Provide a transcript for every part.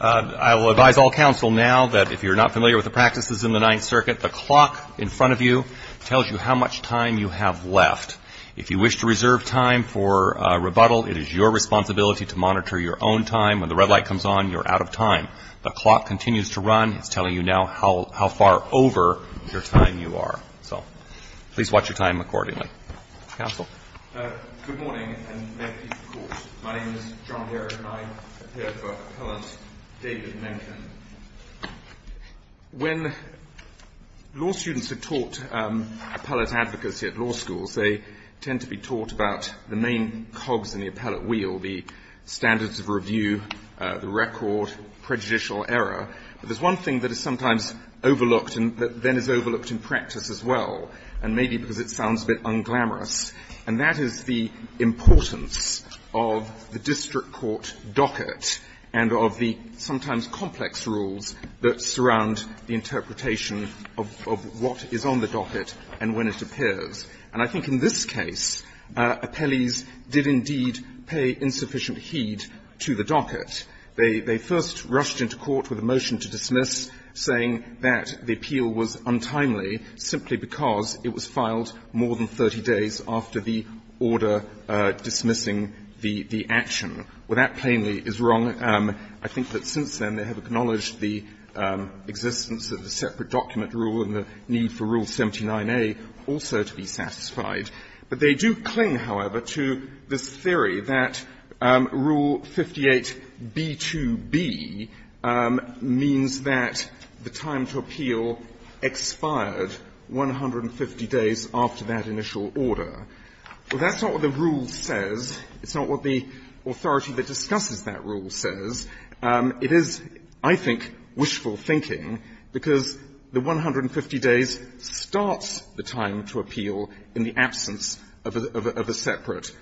I will advise all counsel now that if you're not familiar with the practices in the Ninth Circuit, the clock in front of you tells you how much time you have left. If you wish to reserve time for rebuttal, it is your responsibility to monitor your own time. When the red light comes on, you're out of time. The clock continues to run. It's telling you now how far over your time you are. So, please watch your time accordingly. Counsel? Good morning, and may it be of course. My name is John Baird, and I'm here for Appellant David Menken. When law students are taught appellate advocacy at law schools, they tend to be taught about the main cogs in the appellate wheel, the standards of review, the record, prejudicial error. But there's one thing that is sometimes overlooked and that then is overlooked in practice as well, and maybe because it sounds a bit unglamorous, and that is the importance of the district court docket and of the sometimes complex rules that surround the interpretation of what is on the docket and when it appears. And I think in this case, appellees did indeed pay insufficient heed to the docket. They first rushed into court with a motion to dismiss, saying that the appeal was untimely simply because it was filed more than 30 days after the order dismissing the action. Well, that plainly is wrong. I think that since then they have acknowledged the existence of the separate document rule and the need for Rule 79a also to be satisfied. But they do cling, however, to this theory that Rule 58b2b means that the time to appeal expired 150 days after that initial order. Well, that's not what the rule says. It's not what the authority that discusses that rule says. It is, I think, wishful thinking, because the 150 days starts the time to appeal in the absence of a separate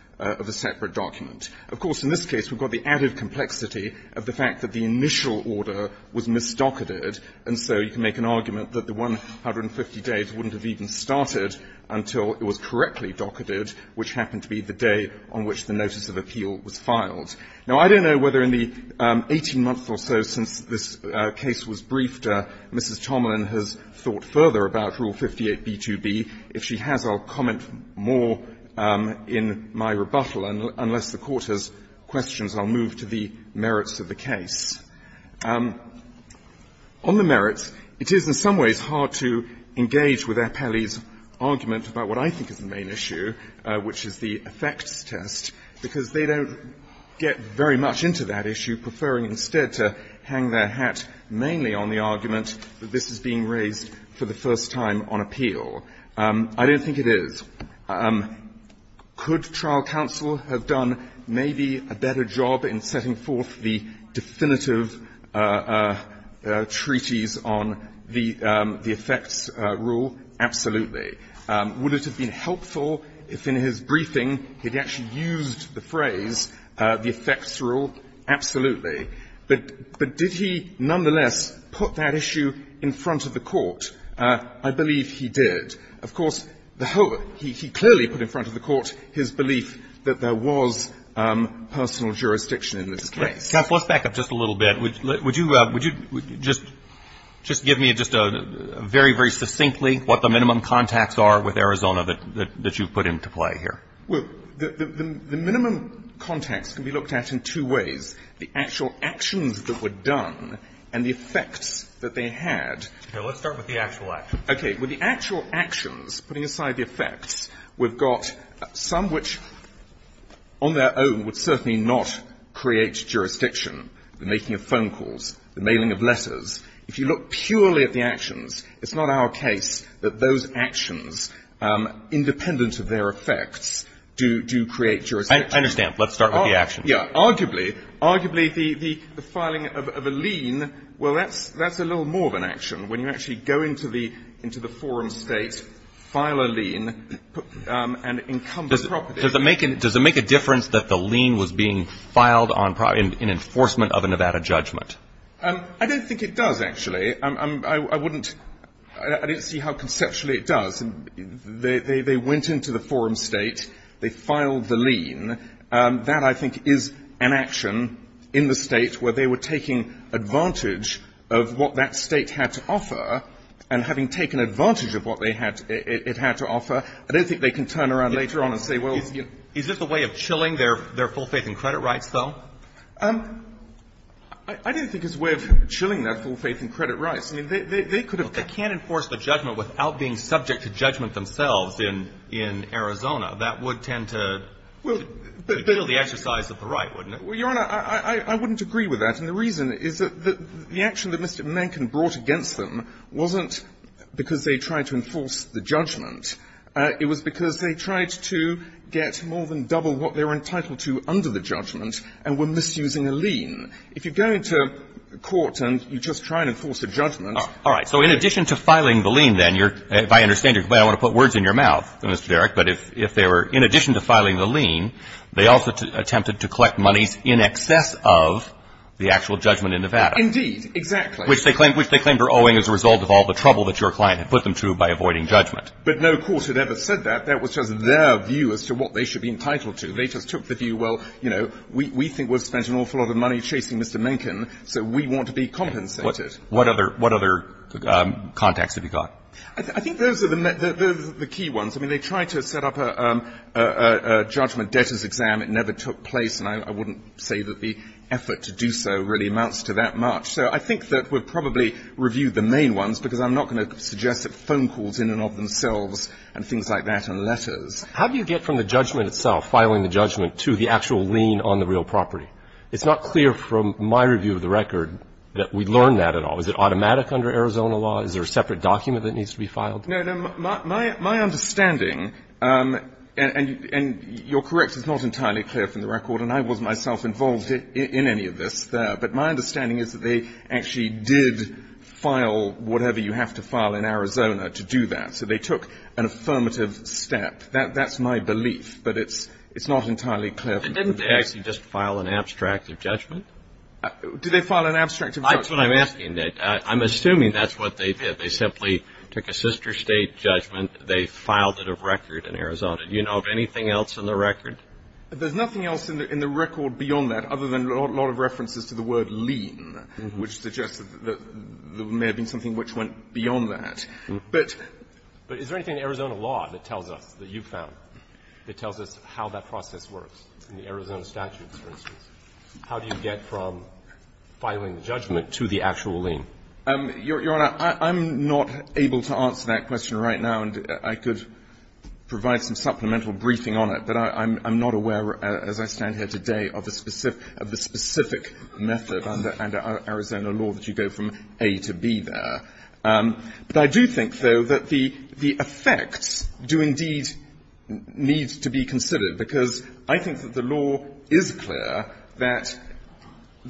document. Of course, in this case, we've got the added complexity of the fact that the initial order was misdocketed, and so you can make an argument that the 150 days wouldn't have even started until it was correctly docketed, which happened to be the day on which the notice of appeal was filed. Now, I don't know whether in the 18 months or so since this case was briefed, Mrs. Tomlin has thought further about Rule 58b2b. If she has, I'll comment more in my rebuttal, unless the Court has questions. I'll move to the merits of the case. On the merits, it is in some ways hard to engage with Appelli's argument about what I think is the main issue, which is the effects test, because they don't get very much into that issue, preferring instead to hang their hat mainly on the argument that this is being raised for the first time on appeal. I don't think it is. Could trial counsel have done maybe a better job in setting forth the definitive treaties on the effects rule? Absolutely. Would it have been helpful if in his briefing he had actually used the phrase the effects rule? Absolutely. But did he nonetheless put that issue in front of the Court? I believe he did. Of course, the whole of it, he clearly put in front of the Court his belief that there was personal jurisdiction in this case. Counsel, let's back up just a little bit. Would you just give me just a very, very succinctly what the minimum contacts are with Arizona that you've put into play here? Well, the minimum contacts can be looked at in two ways, the actual actions that were done and the effects that they had. Okay. Let's start with the actual actions. Okay. With the actual actions, putting aside the effects, we've got some which on their own would certainly not create jurisdiction, the making of phone calls, the mailing of letters. If you look purely at the actions, it's not our case that those actions, independent of their effects, do create jurisdiction. I understand. Let's start with the actions. Yeah. Arguably, arguably the filing of a lien, well, that's a little more of an action when you actually go into the forum state, file a lien, and encumber property. Does it make a difference that the lien was being filed in enforcement of a Nevada judgment? I don't think it does, actually. I wouldn't see how conceptually it does. They went into the forum state. They filed the lien. That, I think, is an action in the State where they were taking advantage of what that State had to offer. And having taken advantage of what they had to offer, I don't think they can turn around later on and say, well, you know. Is this a way of chilling their full faith and credit rights, though? I don't think it's a way of chilling their full faith and credit rights. I mean, they could have been. They can't enforce the judgment without being subject to judgment themselves in Arizona. That would tend to. It would be a bit of the exercise of the right, wouldn't it? Well, Your Honor, I wouldn't agree with that. And the reason is that the action that Mr. Mencken brought against them wasn't because they tried to enforce the judgment. It was because they tried to get more than double what they were entitled to under the judgment and were misusing a lien. If you go into court and you just try and enforce a judgment. All right. So in addition to filing the lien, then, you're – if I understand you, I want to put words in your mouth, Mr. Derrick. But if they were – in addition to filing the lien, they also attempted to collect monies in excess of the actual judgment in Nevada. Indeed. Exactly. Which they claimed were owing as a result of all the trouble that your client had put them through by avoiding judgment. But no court had ever said that. That was just their view as to what they should be entitled to. They just took the view, well, you know, we think we've spent an awful lot of money chasing Mr. Mencken, so we want to be compensated. What other contacts have you got? I think those are the key ones. I mean, they tried to set up a judgment debtors' exam. It never took place. And I wouldn't say that the effort to do so really amounts to that much. So I think that we've probably reviewed the main ones, because I'm not going to suggest that phone calls in and of themselves and things like that and letters. How do you get from the judgment itself, filing the judgment, to the actual lien on the real property? It's not clear from my review of the record that we learned that at all. Is there a separate document that needs to be filed? No, no. My understanding, and you're correct, it's not entirely clear from the record, and I wasn't myself involved in any of this there, but my understanding is that they actually did file whatever you have to file in Arizona to do that. So they took an affirmative step. That's my belief, but it's not entirely clear from the record. And didn't they actually just file an abstract of judgment? Did they file an abstract of judgment? That's what I'm asking. I'm assuming that's what they did. They simply took a sister State judgment. They filed it of record in Arizona. Do you know of anything else in the record? There's nothing else in the record beyond that, other than a lot of references to the word lien, which suggests that there may have been something which went beyond that. But is there anything in Arizona law that tells us, that you found, that tells us how that process works in the Arizona statutes, for instance? How do you get from filing the judgment to the actual lien? Your Honor, I'm not able to answer that question right now, and I could provide some supplemental briefing on it. But I'm not aware, as I stand here today, of the specific method under Arizona law that you go from A to B there. But I do think, though, that the effects do indeed need to be considered, because I think that the law is clear that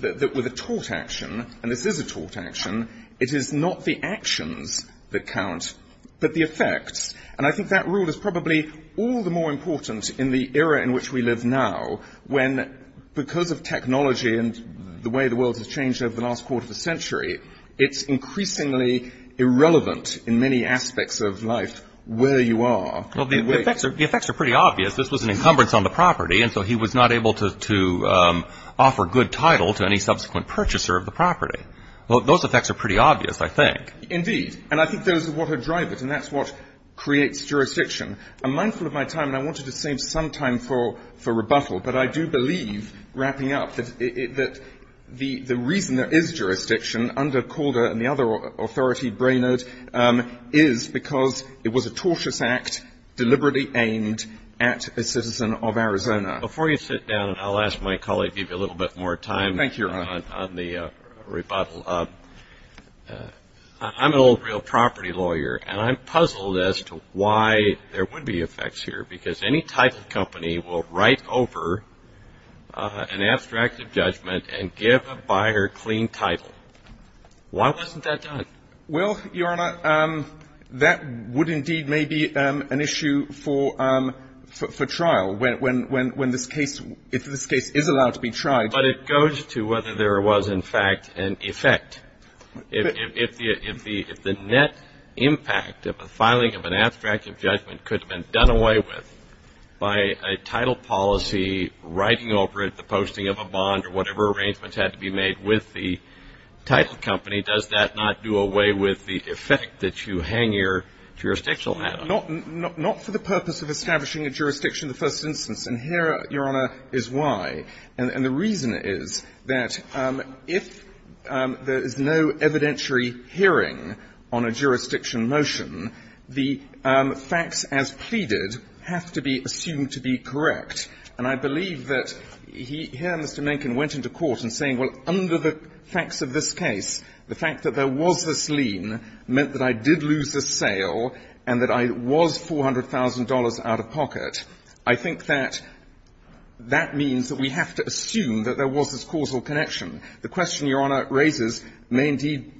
with a tort action, and this is a tort action, it is not the actions that count, but the effects. And I think that rule is probably all the more important in the era in which we live now, when, because of technology and the way the world has changed over the last quarter of a century, it's increasingly irrelevant in many aspects of life where you are. Well, the effects are pretty obvious. This was an encumbrance on the property, and so he was not able to offer good title to any subsequent purchaser of the property. Well, those effects are pretty obvious, I think. Indeed. And I think those are what are drivers, and that's what creates jurisdiction. I'm mindful of my time, and I wanted to save some time for rebuttal. But I do believe, wrapping up, that the reason there is jurisdiction under Calder and the other authority, Brainard, is because it was a tortious act deliberately aimed at a citizen of Arizona. Before you sit down, I'll ask my colleague to give you a little bit more time on the rebuttal. I'm an old real property lawyer, and I'm puzzled as to why there would be effects here, because any title company will write over an abstract of judgment and give a buyer clean title. Why wasn't that done? Well, Your Honor, that would indeed may be an issue for trial, when this case is allowed to be tried. But it goes to whether there was, in fact, an effect. If the net impact of a filing of an abstract of judgment could have been done away with by a title policy writing over it, the posting of a bond or whatever arrangements had to be made with the title company, does that not do away with the effect that you hang your jurisdictional hat on? Not for the purpose of establishing a jurisdiction in the first instance. And here, Your Honor, is why. And the reason is that if there is no evidentiary hearing on a jurisdiction motion, the facts as pleaded have to be assumed to be correct. And I believe that here Mr. Mencken went into court and saying, well, under the facts of this case, the fact that there was this lien meant that I did lose this sale and that I was $400,000 out of pocket. I think that that means that we have to assume that there was this causal connection. The question Your Honor raises may indeed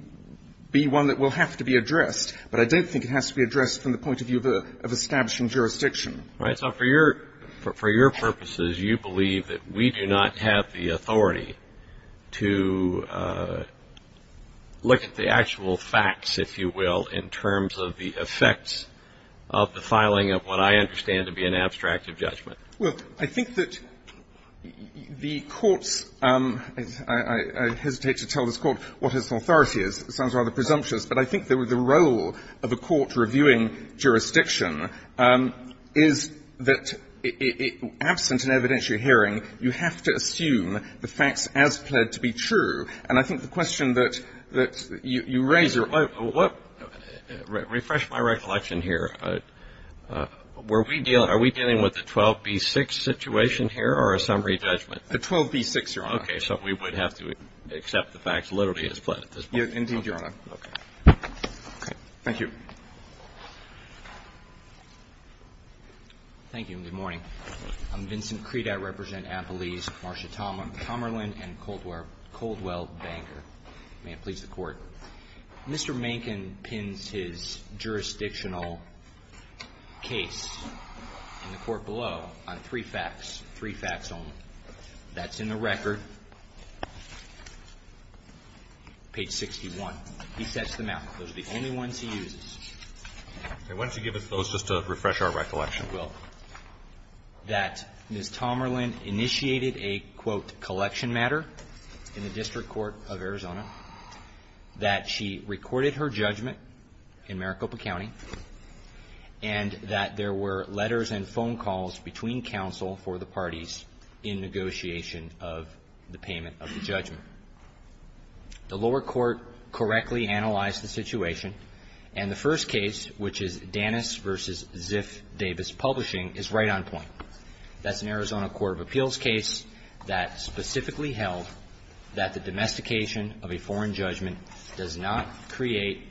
be one that will have to be addressed, but I don't think it has to be addressed from the point of view of establishing jurisdiction. Right. So for your purposes, you believe that we do not have the authority to look at the actual facts, if you will, in terms of the effects of the filing of what I understand to be an abstract of judgment. Well, I think that the courts – I hesitate to tell this Court what its authority is. It sounds rather presumptuous. But I think the role of a court reviewing jurisdiction is that absent an evidentiary hearing, you have to assume the facts as pled to be true. And I think the question that you raise, Your Honor – Well, refresh my recollection here. Were we dealing – are we dealing with the 12b-6 situation here or a summary judgment? The 12b-6, Your Honor. Okay. So we would have to accept the facts literally as pled at this point. Indeed, Your Honor. Okay. Thank you. Thank you, and good morning. I'm Vincent Credat. May it please the Court. Mr. Mankin pins his jurisdictional case in the court below on three facts, three facts only. That's in the record, page 61. He sets them out. Those are the only ones he uses. Okay. Why don't you give us those just to refresh our recollection? Well, that Ms. Tomerlin initiated a, quote, collection matter in the District Court of Arizona, that she recorded her judgment in Maricopa County, and that there were letters and phone calls between counsel for the parties in negotiation of the payment of the judgment. The lower court correctly analyzed the situation, and the first case, which is Danis v. Ziff Davis Publishing, is right on point. That's an Arizona court of appeals case that specifically held that the domestication of a foreign judgment does not create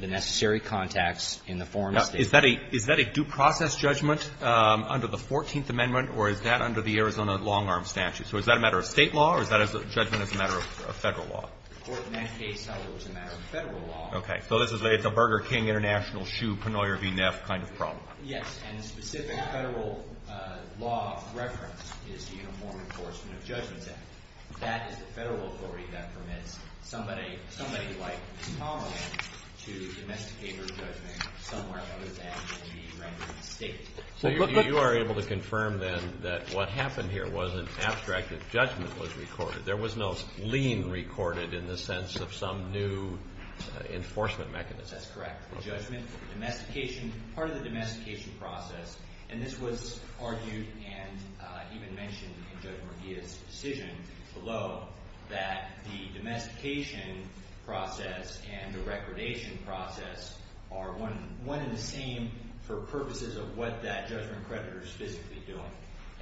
the necessary contacts in the foreign state. Now, is that a due process judgment under the 14th Amendment, or is that under the Arizona long-arm statute? So is that a matter of State law, or is that a judgment as a matter of Federal law? The court in that case held it was a matter of Federal law. Okay. So this is a Burger King International, shoe, penoyer v. Neff kind of problem. Yes, and the specific Federal law of reference is the Uniform Enforcement of Judgment Act. That is the Federal authority that permits somebody like Tomerlin to domesticate her judgment somewhere other than in the random state. So you are able to confirm, then, that what happened here wasn't abstract, that judgment was recorded. There was no lien recorded in the sense of some new enforcement mechanism. That's correct. The judgment, the domestication, part of the domestication process, and this was argued and even mentioned in Judge Murguia's decision below, that the domestication process and the recordation process are one and the same for purposes of what that judgment creditor is physically doing.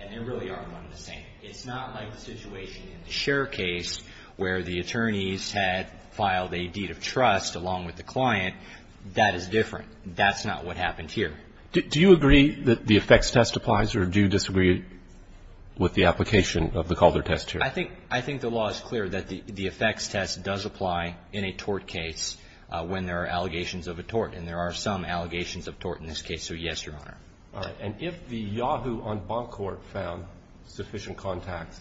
And they really are one and the same. It's not like the situation in the Cher case where the attorneys had filed a deed of trust along with the client. That is different. That's not what happened here. Do you agree that the effects test applies, or do you disagree with the application of the Calder test here? I think the law is clear that the effects test does apply in a tort case when there are allegations of a tort, and there are some allegations of tort in this case. So, yes, Your Honor. All right. And if the Yahoo on Boncourt found sufficient contacts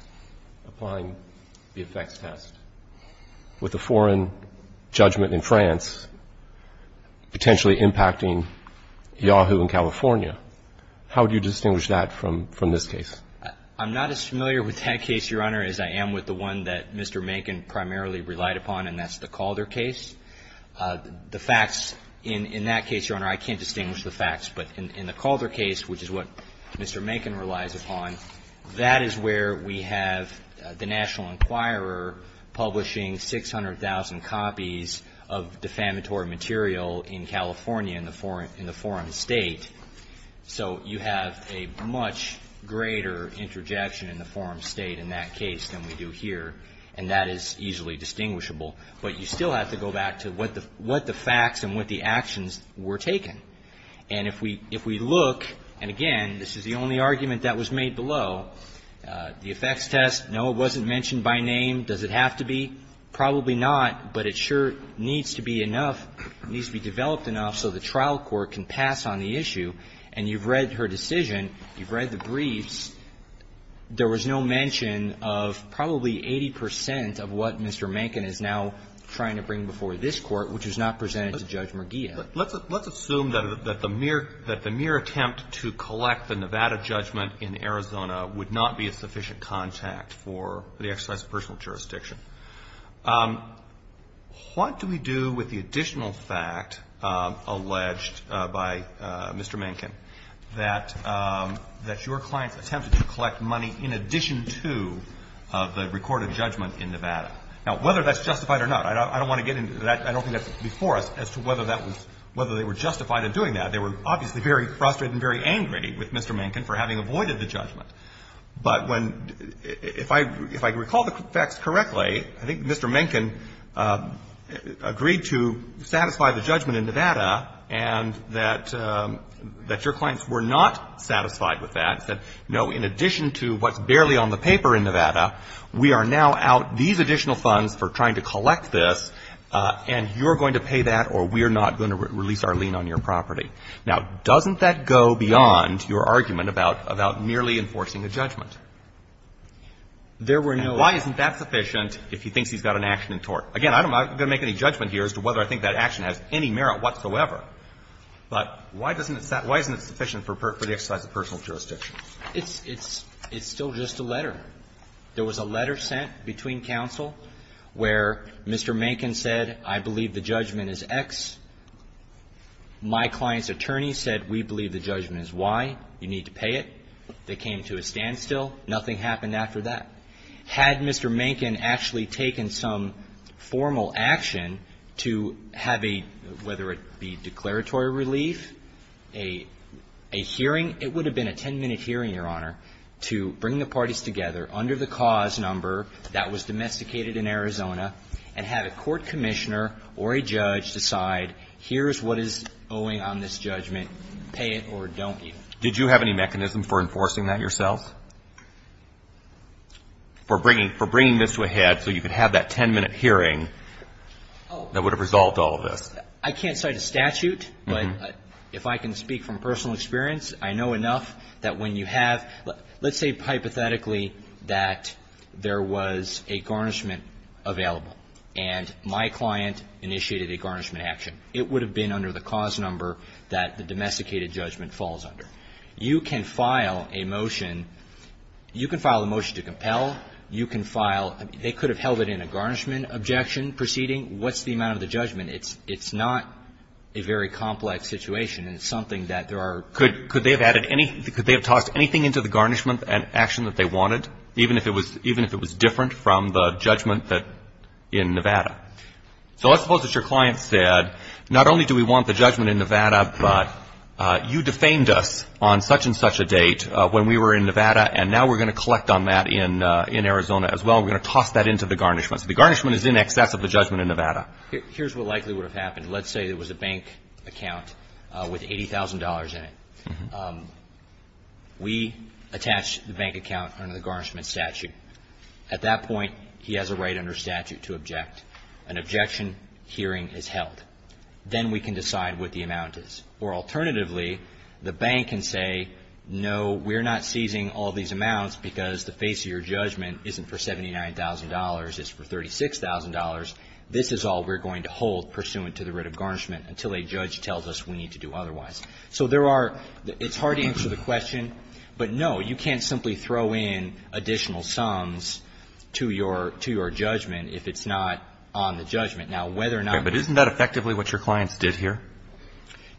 applying the effects test with the foreign judgment in France, potentially impacting Yahoo in California, how would you distinguish that from this case? I'm not as familiar with that case, Your Honor, as I am with the one that Mr. Mankin primarily relied upon, and that's the Calder case. The facts in that case, Your Honor, I can't distinguish the facts. But in the Calder case, which is what Mr. Mankin relies upon, that is where we have the National Enquirer publishing 600,000 copies of defamatory material in California in the foreign state. So you have a much greater interjection in the foreign state in that case than we do here, and that is easily distinguishable. But you still have to go back to what the facts and what the actions were taken. And if we look, and again, this is the only argument that was made below, the effects test, no, it wasn't mentioned by name. Does it have to be? Probably not, but it sure needs to be enough, needs to be developed enough so the trial court can pass on the issue. And you've read her decision. You've read the briefs. There was no mention of probably 80 percent of what Mr. Mankin is now trying to bring before this Court, which was not presented to Judge Murgillo. But let's assume that the mere attempt to collect the Nevada judgment in Arizona would not be a sufficient contact for the exercise of personal jurisdiction. What do we do with the additional fact alleged by Mr. Mankin that your clients attempted to collect money in addition to the recorded judgment in Nevada? Now, whether that's justified or not, I don't want to get into that. I don't think that's before us as to whether they were justified in doing that. They were obviously very frustrated and very angry with Mr. Mankin for having avoided the judgment. But when — if I recall the facts correctly, I think Mr. Mankin agreed to satisfy the judgment in Nevada and that your clients were not satisfied with that, said, no, in addition to what's barely on the paper in Nevada, we are now out these additional funds for trying to collect this, and you're going to pay that or we're not going to do it. Now, doesn't that go beyond your argument about merely enforcing a judgment? There were no other — And why isn't that sufficient if he thinks he's got an action in tort? Again, I'm not going to make any judgment here as to whether I think that action has any merit whatsoever. But why doesn't it — why isn't it sufficient for the exercise of personal jurisdiction? It's still just a letter. There was a letter sent between counsel where Mr. Mankin said, I believe the judgment is X. My client's attorney said, we believe the judgment is Y. You need to pay it. They came to a standstill. Nothing happened after that. Had Mr. Mankin actually taken some formal action to have a — whether it be declaratory relief, a hearing — it would have been a 10-minute hearing, Your Honor — to bring the parties together under the cause number that was domesticated in Arizona and have a court commissioner or a judge decide, here's what is owing on this judgment. Pay it or don't you. Did you have any mechanism for enforcing that yourself? For bringing — for bringing this to a head so you could have that 10-minute hearing that would have resolved all of this? I can't cite a statute, but if I can speak from personal experience, I know enough that when you have — let's say hypothetically that there was a garnishment available and my client initiated a garnishment action, it would have been under the cause number that the domesticated judgment falls under. You can file a motion. You can file a motion to compel. You can file — they could have held it in a garnishment objection proceeding. What's the amount of the judgment? It's not a very complex situation, and it's something that there are — Could they have added any — could they have tossed anything into the garnishment and action that they wanted, even if it was — even if it was different from the judgment that — in Nevada? So let's suppose that your client said, not only do we want the judgment in Nevada, but you defamed us on such and such a date when we were in Nevada, and now we're going to collect on that in Arizona as well. We're going to toss that into the garnishment. So the garnishment is in excess of the judgment in Nevada. Here's what likely would have happened. Let's say there was a bank account with $80,000 in it. We attach the bank account under the garnishment statute. At that point, he has a right under statute to object. An objection hearing is held. Then we can decide what the amount is. Or alternatively, the bank can say, no, we're not seizing all these amounts because the face of your judgment isn't for $79,000, it's for $36,000. This is all we're going to hold pursuant to the writ of garnishment until a judge tells us we need to do otherwise. So there are – it's hard to answer the question, but no, you can't simply throw in additional sums to your judgment if it's not on the judgment. Now, whether or not – Okay, but isn't that effectively what your clients did here?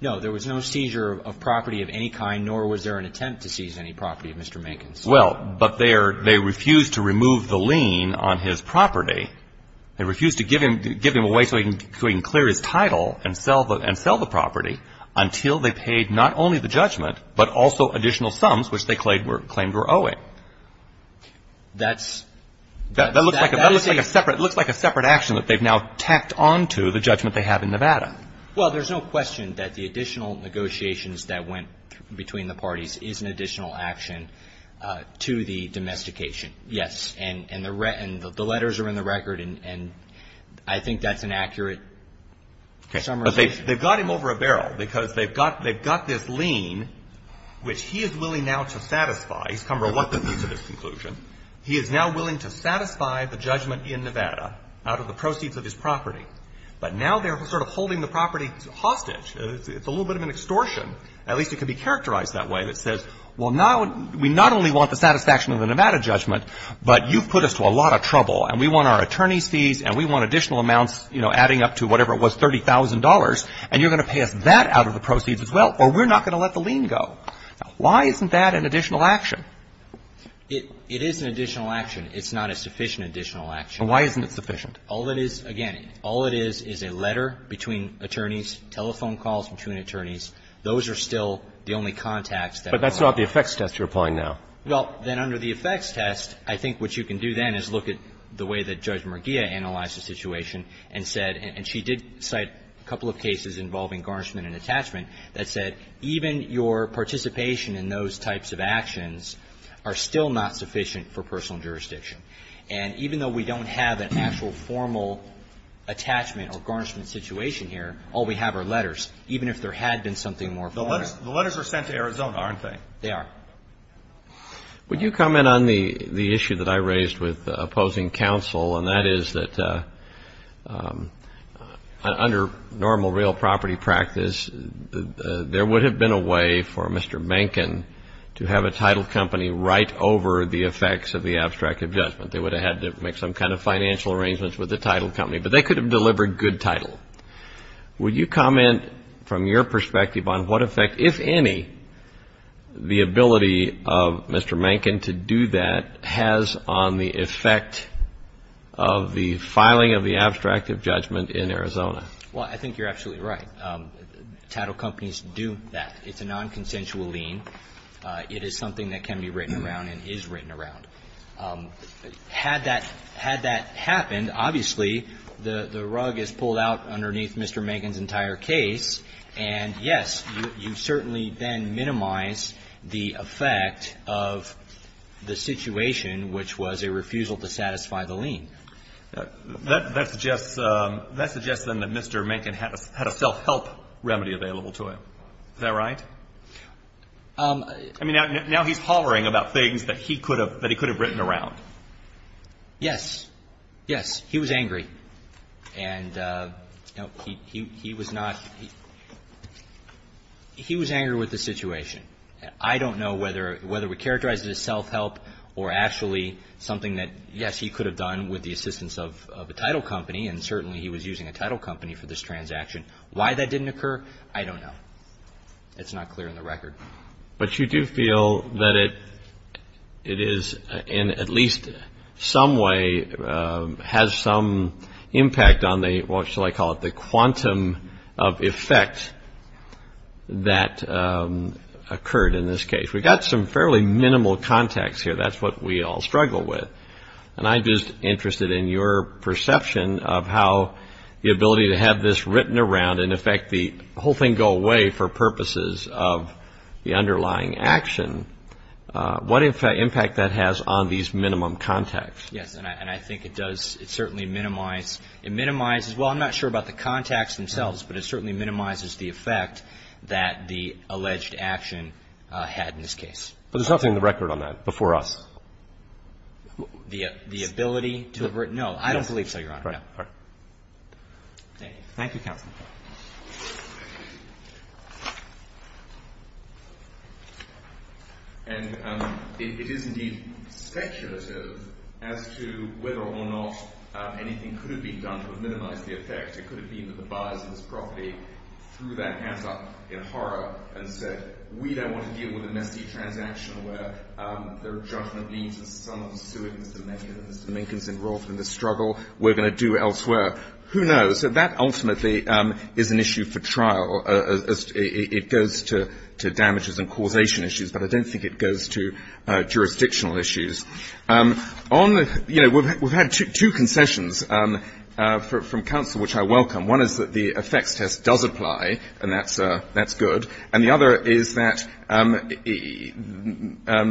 No, there was no seizure of property of any kind, nor was there an attempt to seize any property of Mr. Mankin's. Well, but they refused to remove the lien on his property. They refused to give him away so he can clear his title and sell the property until they paid not only the judgment, but also additional sums which they claimed were owing. That's – That looks like a separate action that they've now tacked onto the judgment they have in Nevada. Well, there's no question that the additional negotiations that went between the parties is an additional action to the domestication, yes. And the letters are in the record, and I think that's an accurate summary. But they've got him over a barrel because they've got – they've got this lien, which he is willing now to satisfy. He's come to a reluctant conclusion. He is now willing to satisfy the judgment in Nevada out of the proceeds of his property. But now they're sort of holding the property hostage. It's a little bit of an extortion. At least it can be characterized that way that says, well, now we not only want the satisfaction of the Nevada judgment, but you've put us to a lot of trouble, and we want our attorney's fees, and we want additional amounts, you know, adding up to whatever it was, $30,000, and you're going to pay us that out of the proceeds as well, or we're not going to let the lien go. Why isn't that an additional action? It is an additional action. It's not a sufficient additional action. And why isn't it sufficient? All it is, again, all it is is a letter between attorneys, telephone calls between attorneys. Those are still the only contacts that are allowed. But that's not the effects test you're applying now. Well, then under the effects test, I think what you can do then is look at the way that Judge Mergia analyzed the situation and said, and she did cite a couple of cases involving garnishment and attachment, that said even your participation in those types of actions are still not sufficient for personal jurisdiction. And even though we don't have an actual formal attachment or garnishment situation here, all we have are letters, even if there had been something more formal. The letters are sent to Arizona, aren't they? They are. Would you comment on the issue that I raised with opposing counsel, and that is that under normal real property practice, there would have been a way for Mr. Mencken to have a title company right over the effects of the abstract adjustment. They would have had to make some kind of financial arrangements with the title company, but they could have delivered good title. Would you comment from your perspective on what effect, if any, the ability of Mr. Mencken to do that has on the effect of the filing of the abstract of judgment in Arizona? Well, I think you're absolutely right. Title companies do that. It's a nonconsensual lien. It is something that can be written around and is written around. Had that happened, obviously the rug is pulled out underneath Mr. Mencken's entire case, and yes, you certainly then minimize the effect of the situation, which was a refusal to satisfy the lien. That suggests then that Mr. Mencken had a self-help remedy available to him. Is that right? I mean, now he's hollering about things that he could have written around. Yes. Yes. He was angry. And he was not he was angry with the situation. I don't know whether we characterize it as self-help or actually something that, yes, he could have done with the assistance of a title company, and certainly he was using a title company for this transaction. Why that didn't occur, I don't know. It's not clear on the record. But you do feel that it is in at least some way has some impact on the, what shall I call it, the quantum of effect that occurred in this case. We've got some fairly minimal context here. That's what we all struggle with. And I'm just interested in your perception of how the ability to have this written around and, in fact, the whole thing go away for purposes of the underlying action, what impact that has on these minimum context. Yes. And I think it does. It certainly minimizes. Well, I'm not sure about the context themselves, but it certainly minimizes the effect that the alleged action had in this case. But there's nothing on the record on that before us. The ability to have written? No. I don't believe so, Your Honor. All right. Thank you, Counsel. Thank you. And it is, indeed, speculative as to whether or not anything could have been done to minimize the effect. It could have been that the buyers of this property threw that hat up in horror and said, we don't want to deal with a messy transaction where their judgment leads to someone suing Mr. Minkins. Mr. Minkins is involved in the struggle. We're going to do elsewhere. Who knows? So that ultimately is an issue for trial. It goes to damages and causation issues. But I don't think it goes to jurisdictional issues. You know, we've had two concessions from counsel, which I welcome. One is that the effects test does apply, and that's good. And the other is that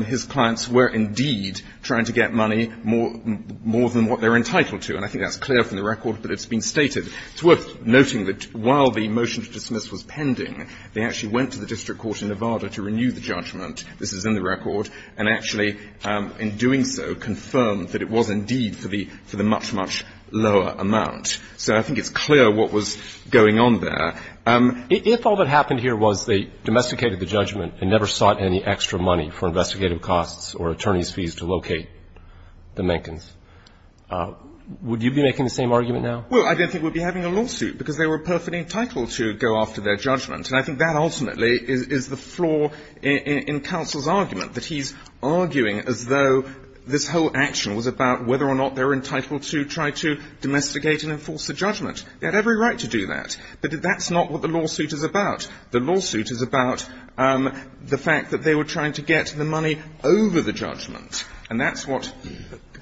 his clients were, indeed, trying to get money more than what they're entitled to. And I think that's clear from the record, but it's been stated. It's worth noting that while the motion to dismiss was pending, they actually went to the district court in Nevada to renew the judgment. This is in the record. And actually, in doing so, confirmed that it was, indeed, for the much, much lower amount. So I think it's clear what was going on there. If all that happened here was they domesticated the judgment and never sought any extra money for investigative costs or attorney's fees to locate the Menckens, would you be making the same argument now? Well, I don't think we'd be having a lawsuit because they were perfectly entitled to go after their judgment. And I think that ultimately is the flaw in counsel's argument, that he's arguing as though this whole action was about whether or not they were entitled to try to domesticate and enforce the judgment. They had every right to do that. But that's not what the lawsuit is about. The lawsuit is about the fact that they were trying to get the money over the judgment. And that's what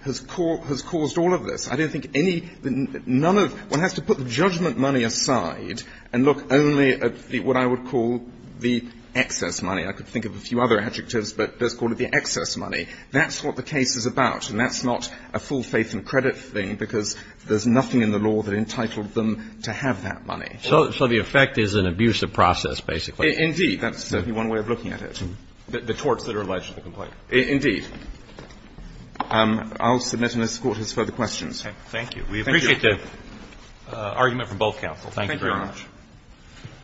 has caused all of this. I don't think any ñ none of ñ one has to put the judgment money aside and look only at what I would call the excess money. I could think of a few other adjectives, but let's call it the excess money. That's what the case is about. And that's not a full faith and credit thing because there's nothing in the law that entitled them to have that money. So the effect is an abusive process, basically. Indeed. That's certainly one way of looking at it. The torts that are alleged in the complaint. Indeed. I'll submit and escort his further questions. Okay. Thank you. We appreciate the argument from both counsel. Thank you very much.